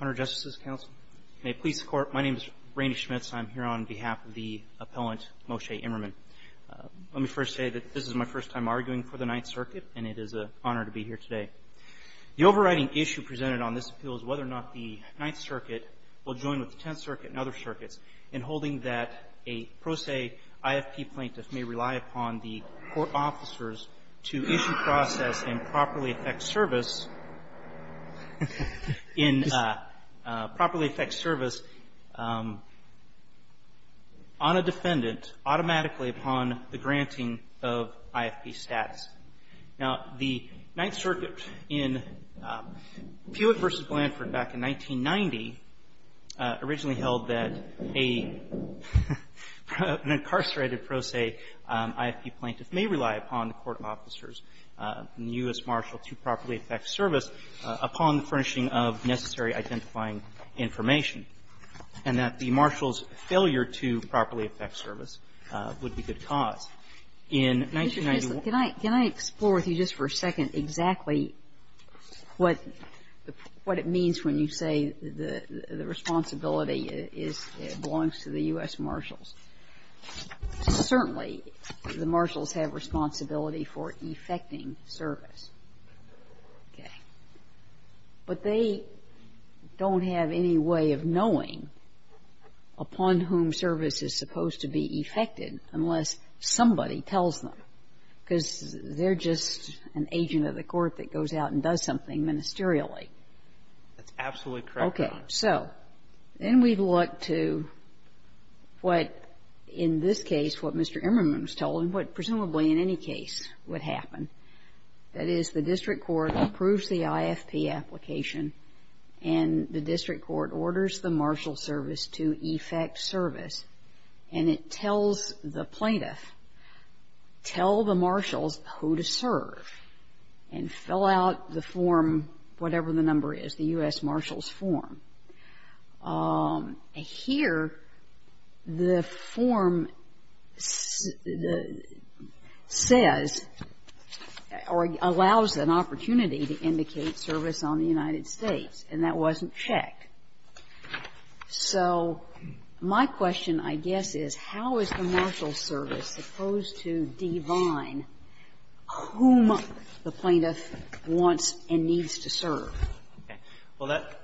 Honorary Justices Council, May it please the Court, my name is Randy Schmitz and I'm here on behalf of the Appellant Moshe Immerman. Let me first say that this is my first time arguing for the Ninth Circuit and it is an honor to be here today. The overriding issue presented on this appeal is whether or not the Ninth Circuit will join with the Tenth Circuit and other circuits in holding that a pro se IFP plaintiff may rely upon the court officers to issue process and properly affect service on a defendant automatically upon the granting of IFP status. Now, the Ninth Circuit in Hewitt v. Blanford back in 1990 originally held that an incarcerated pro se IFP plaintiff may rely upon the court officers, the U.S. Marshal, to properly affect service upon furnishing of necessary identifying information, and that the Marshal's for a second exactly what it means when you say the responsibility belongs to the U.S. Marshals. Certainly, the Marshals have responsibility for effecting service. Okay. But they don't have any way of knowing upon whom service is supposed to be effected unless somebody tells them, because they're just an agent of the court that goes out and does something ministerially. That's absolutely correct, Your Honor. Okay. So then we look to what, in this case, what Mr. Emmerman was told and what presumably in any case would happen. That is, the district court approves the IFP application and the district court orders the Marshal's service to effect service, and it tells the plaintiff, tell the Marshals who to serve, and fill out the form, whatever the number is, the U.S. Marshal's form. Here, the form says or allows an opportunity to indicate service on the United States, and that wasn't check. So my question, I guess, is how is the Marshal's service supposed to divine whom the plaintiff wants and needs to serve? Well, that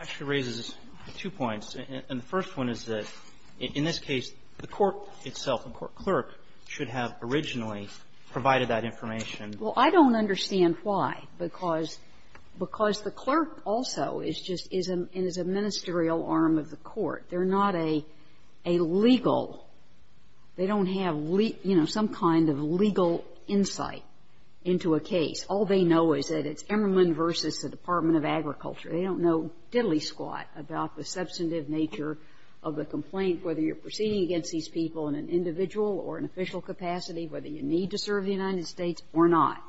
actually raises two points. And the first one is that, in this case, the court itself, the court clerk, should have originally provided that information. Well, I don't understand why, because the clerk also is just and is a ministerial arm of the court. They're not a legal they don't have, you know, some kind of legal insight into a case. All they know is that it's Emmerman v. the Department of Agriculture. They don't know diddly-squat about the substantive nature of the complaint, whether you're proceeding against these people in an individual or an official capacity, whether you need to serve the United States or not.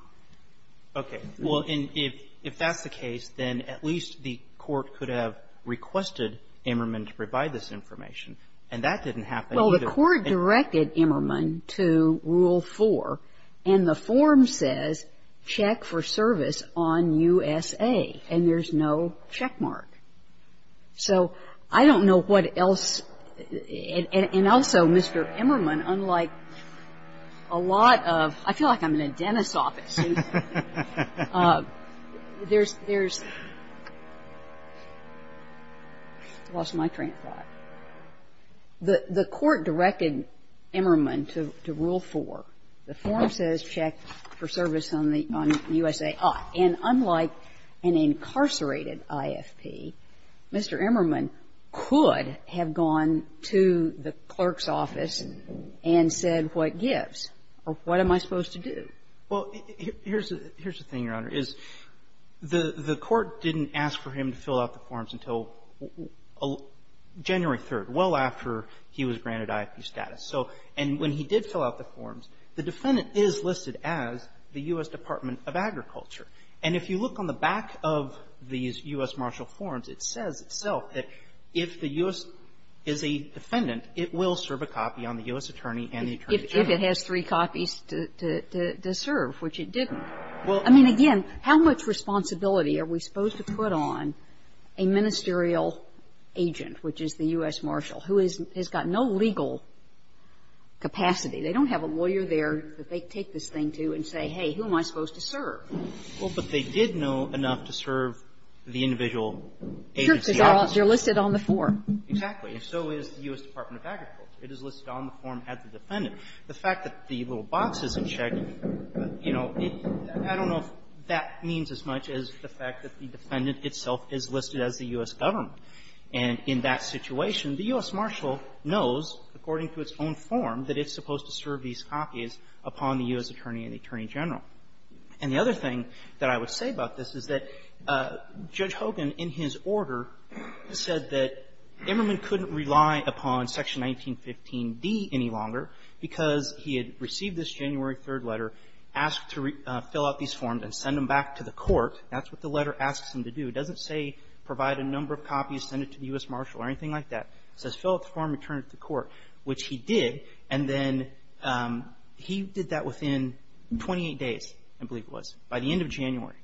Okay. Well, if that's the case, then at least the court could have requested Emmerman to provide this information, and that didn't happen either. Well, the court directed Emmerman to Rule 4, and the form says, check for service on U.S.A., and there's no checkmark. So I don't know what else and also Mr. Emmerman, unlike a lot of, I feel like I'm in a dentist's office, there's, there's, lost my train of thought. The court directed Emmerman to Rule 4. The form says, check for service on the U.S.A. And unlike an incarcerated IFP, Mr. Emmerman could have gone to the clerk's office and said what gives or what am I supposed to do. Well, here's the thing, Your Honor, is the court didn't ask for him to fill out the forms until January 3rd, well after he was granted IFP status. So, and when he did fill out the forms, the defendant is listed as the U.S. Department of Agriculture. And if you look on the back of these U.S. Marshal forms, it says itself that if the U.S. is a defendant, it will serve a copy on the U.S. attorney and the attorney general. If it has three copies to serve, which it didn't. Well, I mean, again, how much responsibility are we supposed to put on a ministerial agent, which is the U.S. Marshal, who is, has got no legal capacity. They don't have a lawyer there that they take this thing to and say, hey, who am I supposed to serve? Well, but they did know enough to serve the individual agency. Sure, because they're listed on the form. Exactly. And so is the U.S. Department of Agriculture. It is listed on the form at the defendant. The fact that the little box isn't checked, you know, I don't know if that means as much as the fact that the defendant itself is listed as the U.S. government. And in that situation, the U.S. Marshal knows, according to its own form, that it's the U.S. government that's supposed to serve these copies upon the U.S. attorney and the attorney general. And the other thing that I would say about this is that Judge Hogan, in his order, said that Emmerman couldn't rely upon Section 1915d any longer because he had received this January 3rd letter, asked to fill out these forms and send them back to the court. That's what the letter asks him to do. It doesn't say provide a number of copies, send it to the U.S. Marshal or anything like that. It says fill out the form and return it to the court, which he did. And then he did that within 28 days, I believe it was, by the end of January.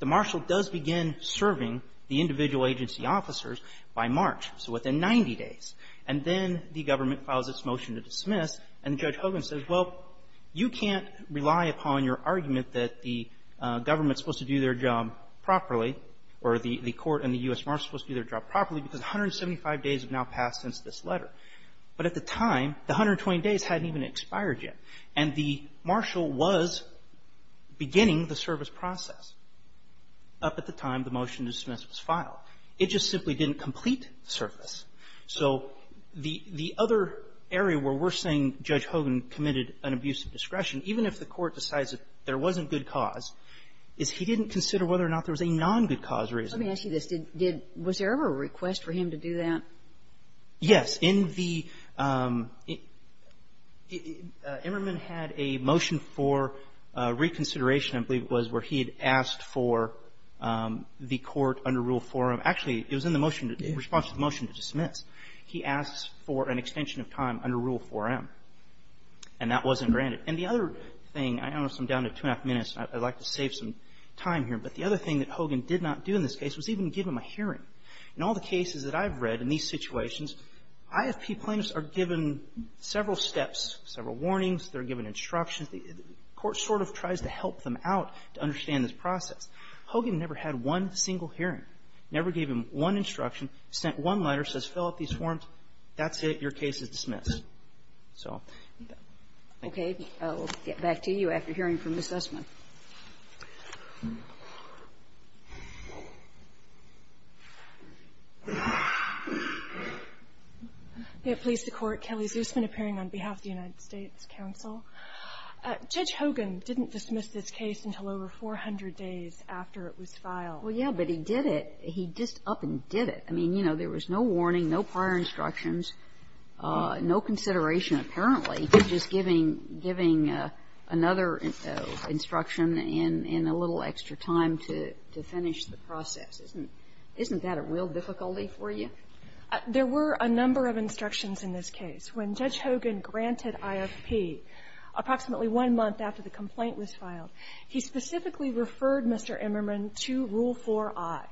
The Marshal does begin serving the individual agency officers by March, so within 90 days. And then the government files its motion to dismiss. And Judge Hogan says, well, you can't rely upon your argument that the government is supposed to do their job properly or the court and the U.S. Marshal is supposed to do their job properly because 175 days have now passed since this letter. But at the time, the 120 days hadn't even expired yet. And the Marshal was beginning the service process up at the time the motion to dismiss was filed. It just simply didn't complete the service. So the other area where we're saying Judge Hogan committed an abuse of discretion, even if the court decides that there wasn't good cause, is he didn't consider whether or not there was a non-good-cause reason. Kagan. Let me ask you this. Did — was there ever a request for him to do that? Yes. In the — Emmerman had a motion for reconsideration, I believe it was, where he had asked for the court under Rule 4M — actually, it was in the motion to — in response to the motion to dismiss. He asked for an extension of time under Rule 4M, and that wasn't granted. And the other thing — I know I'm down to two-and-a-half minutes, and I'd like to save some time here. But the other thing that Hogan did not do in this case was even give him a hearing. In all the cases that I've read in these situations, IFP plaintiffs are given several steps, several warnings, they're given instructions. The court sort of tries to help them out to understand this process. Hogan never had one single hearing, never gave him one instruction, sent one letter, says, fill out these forms. That's it. Your case is dismissed. So thank you. We'll get back to you after hearing from Ms. Essman. Kelley's who's been appearing on behalf of the United States counsel. Judge Hogan didn't dismiss this case until over 400 days after it was filed. Well, yeah, but he did it. He just up and did it. I mean, you know, there was no warning, no prior instructions, no consideration apparently to just giving another instruction in a little extra time to finish the process. Isn't that a real difficulty for you? There were a number of instructions in this case. When Judge Hogan granted IFP approximately one month after the complaint was filed, he specifically referred Mr. Emmerman to Rule 4i.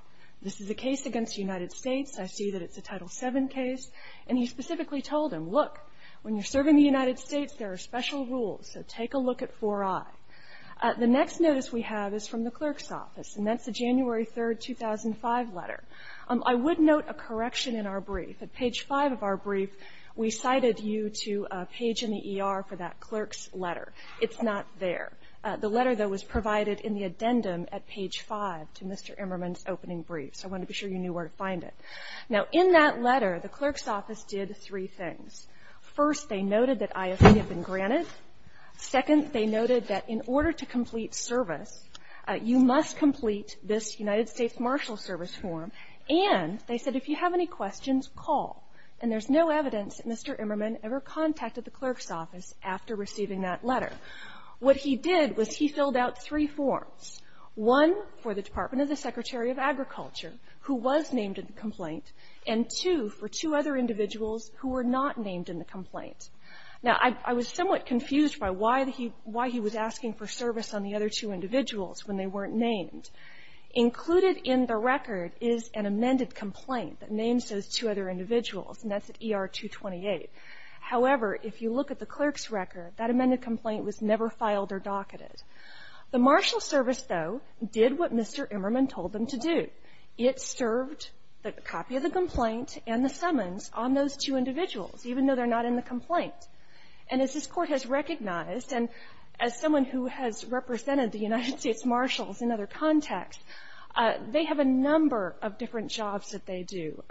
This is a case against the United States. I see that it's a Title VII case. And he specifically told him, look, when you're serving the United States, there are special rules, so take a look at 4i. The next notice we have is from the clerk's office, and that's the January 3, 2005 letter. I would note a correction in our brief. At page 5 of our brief, we cited you to a page in the ER for that clerk's letter. It's not there. The letter, though, was provided in the addendum at page 5 to Mr. Emmerman's opening brief. So I wanted to be sure you knew where to find it. Now, in that letter, the clerk's office did three things. First, they noted that IFP had been granted. Second, they noted that in order to complete service, you must complete this United States Marshal Service form. And they said, if you have any questions, call. And there's no evidence that Mr. Emmerman ever contacted the clerk's office after receiving that letter. What he did was he filled out three forms, one for the Department of the Secretary of Agriculture, who was named in the complaint, and two for two other individuals who were not named in the complaint. Now, I was somewhat confused by why he was asking for service on the other two individuals when they weren't named. Included in the record is an amended complaint that names those two other individuals, and that's at ER 228. However, if you look at the clerk's record, that amended complaint was never filed or docketed. The Marshal Service, though, did what Mr. Emmerman told them to do. It served the copy of the complaint and the summons on those two individuals, even though they're not in the complaint. And as this Court has recognized, and as someone who has represented the United States Marshals in other contexts, they have a number of different jobs that they do.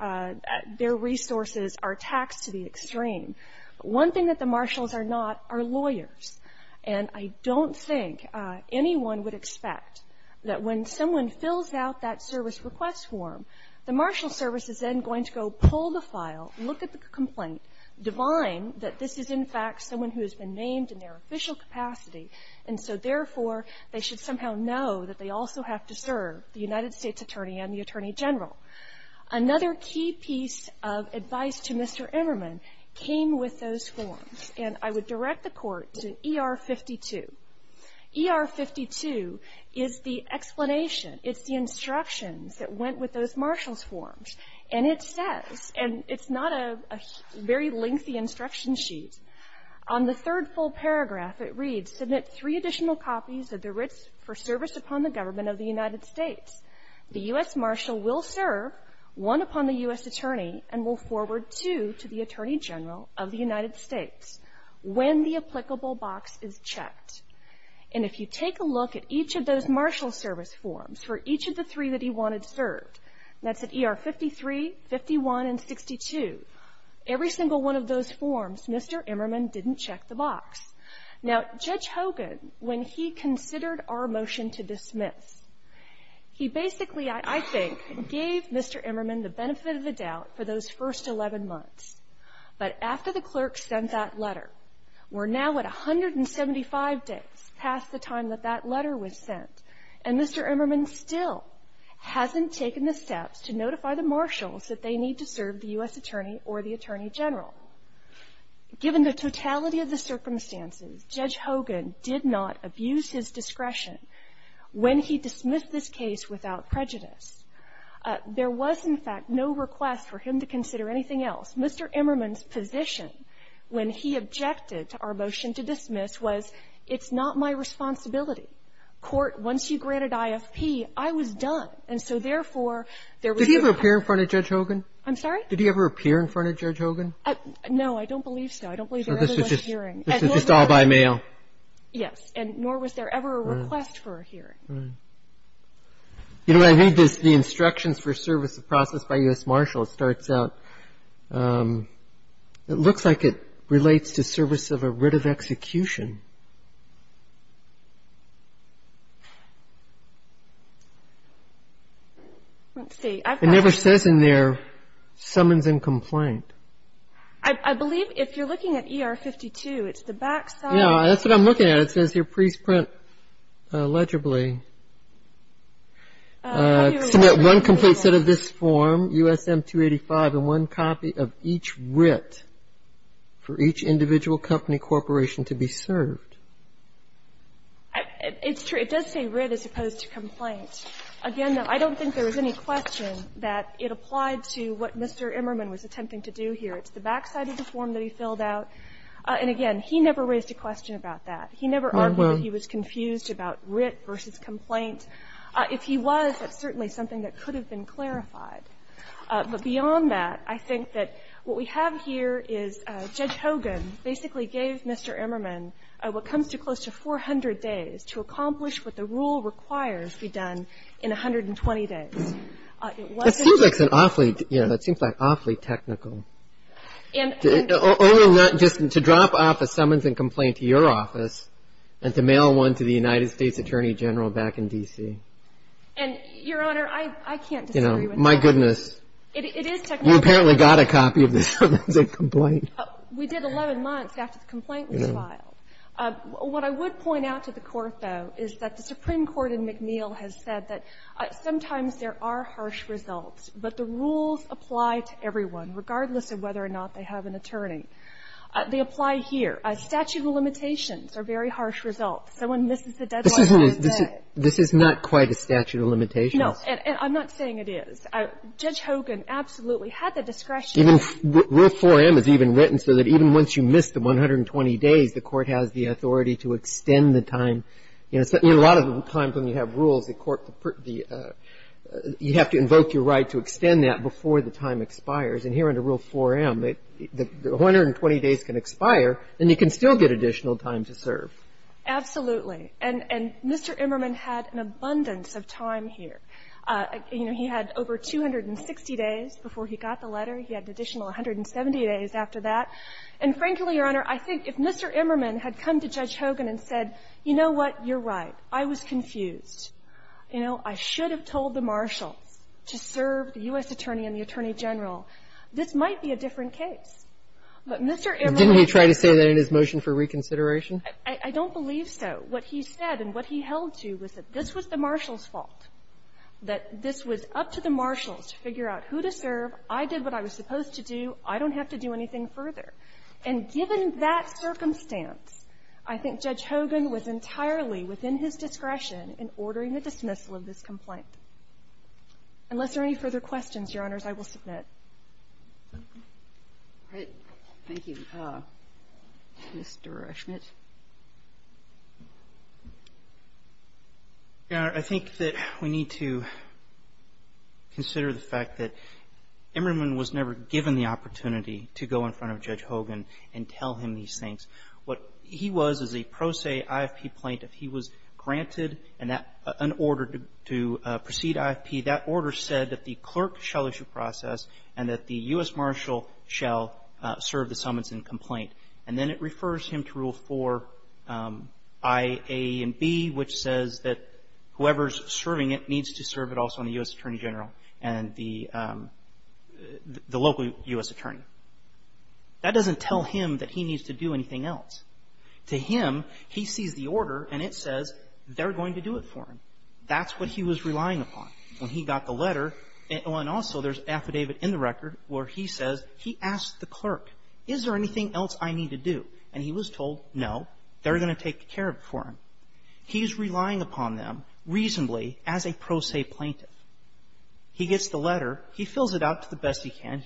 Their resources are taxed to the extreme. One thing that the Marshals are not are lawyers. And I don't think anyone would expect that when someone fills out that service request form, the Marshal Service is then going to go pull the file, look at the complaint, divine that this is, in fact, someone who has been named in their official capacity, and so, therefore, they should somehow know that they also have to serve the United States Attorney and the Attorney General. Another key piece of advice to Mr. Emmerman came with those forms. And I would direct the Court to ER-52. ER-52 is the explanation. It's the instructions that went with those Marshals' forms. And it says, and it's not a very lengthy instruction sheet, on the third full paragraph it reads, Submit three additional copies of the Writs for Service upon the Government of the United States. The U.S. Marshal will serve one upon the U.S. Attorney and will forward two to the Attorney General of the United States when the applicable box is checked. And if you take a look at each of those Marshal Service forms for each of the three that he wanted served, that's at ER-53, 51, and 62, every single one of those forms, Mr. Emmerman didn't check the box. He basically, I think, gave Mr. Emmerman the benefit of the doubt for those first 11 months. But after the clerk sent that letter, we're now at 175 days past the time that that letter was sent, and Mr. Emmerman still hasn't taken the steps to notify the Marshals that they need to serve the U.S. Attorney or the Attorney General. Given the totality of the circumstances, Judge Hogan did not abuse his discretion when he dismissed this case without prejudice. There was, in fact, no request for him to consider anything else. Mr. Emmerman's position when he objected to our motion to dismiss was, it's not my responsibility. Court, once you granted IFP, I was done. And so, therefore, there was no question. Roberts, did he ever appear in front of Judge Hogan? I'm sorry? Did he ever appear in front of Judge Hogan? No, I don't believe so. I don't believe there ever was a hearing. So this was just all by mail? Yes. And nor was there ever a request for a hearing. Right. You know, I read this, the instructions for service of process by U.S. Marshal, it starts out, it looks like it relates to service of a writ of execution. Let's see. It never says in there, summons and complaint. I believe if you're looking at ER 52, it's the back side. Yeah, that's what I'm looking at. It says here, pre-print, legibly, submit one complete set of this form, USM 285, and one copy of each writ for each individual company corporation to be served. It's true. It does say writ as opposed to complaint. Again, I don't think there was any question that it applied to what Mr. Emmerman was attempting to do here. It's the back side of the form that he filled out. And again, he never raised a question about that. He never argued that he was confused about writ versus complaint. If he was, that's certainly something that could have been clarified. But beyond that, I think that what we have here is Judge Hogan basically gave Mr. Emmerman what comes to close to 400 days to accomplish what the rule requires be done in 120 days. It wasn't an awfully, you know, that seems like awfully technical. And only not just to drop off a summons and complaint to your office and to mail one to the United States Attorney General back in DC. And Your Honor, I can't disagree with that. My goodness. It is technical. You apparently got a copy of the summons and complaint. We did 11 months after the complaint was filed. What I would point out to the court, though, is that the Supreme Court in McNeil has said that sometimes there are harsh results, but the rules apply to everyone, regardless of whether or not they have an attorney. They apply here. Statute of limitations are very harsh results. Someone misses the deadline. This is not quite a statute of limitations. No. And I'm not saying it is. Judge Hogan absolutely had the discretion. Rule 4M is even written so that even once you miss the 120 days, the court has the authority to extend the time. You know, a lot of times when you have rules, the court, you have to invoke your right to extend that before the time expires. And here under Rule 4M, the 120 days can expire, and you can still get additional time to serve. Absolutely. And Mr. Emmerman had an abundance of time here. You know, he had over 260 days before he got the letter. He had an additional 170 days after that. And frankly, Your Honor, I think if Mr. Emmerman had come to Judge Hogan and said, you know what, you're right, I was confused. You know, I should have told the marshals to serve the U.S. attorney and the attorney general, this might be a different case. But Mr. Emmerman was going to serve the U.S. attorney and the attorney general. Didn't he try to say that in his motion for reconsideration? I don't believe so. What he said and what he held to was that this was the marshals' fault, that this was up to the marshals to figure out who to serve, I did what I was supposed to do, I don't have to do anything further. And given that circumstance, I think Judge Hogan was entirely within his discretion in ordering the dismissal of this complaint. Unless there are any further questions, Your Honors, I will submit. Thank you. Mr. Schmidt. Your Honor, I think that we need to consider the fact that Emmerman was never given the opportunity to go in front of Judge Hogan and tell him these things. What he was is a pro se IFP plaintiff. He was granted an order to proceed IFP. That order said that the clerk shall issue process and that the U.S. marshal shall serve the summons and complaint. And then it refers him to Rule 4, I, A, and B, which says that whoever's serving it needs to serve it also on the U.S. attorney general and the local U.S. attorney. That doesn't tell him that he needs to do anything else. To him, he sees the order and it says they're going to do it for him. That's what he was relying upon when he got the letter. And also there's affidavit in the record where he says he asked the clerk, is there anything else I need to do? And he was told, no, they're going to take care of it for him. He's relying upon them reasonably as a pro se plaintiff. He gets the letter. He fills it out to the best he can. If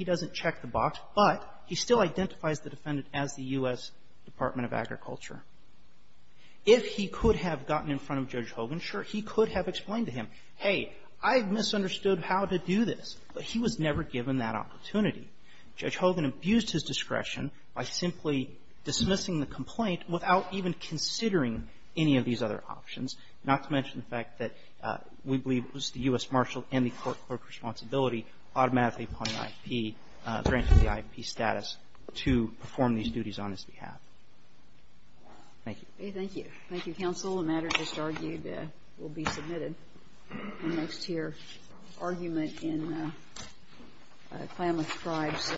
he could have gotten in front of Judge Hogan, sure, he could have explained to him, hey, I've misunderstood how to do this. But he was never given that opportunity. Judge Hogan abused his discretion by simply dismissing the complaint without even considering any of these other options, not to mention the fact that we believe it was the U.S. marshal and the court clerk's responsibility automatically upon an IFP, a grant with the IFP status, to perform these duties on his behalf. Thank you. Thank you. Thank you, counsel. The matter just argued will be submitted in next year. Argument in Klamath Tribes.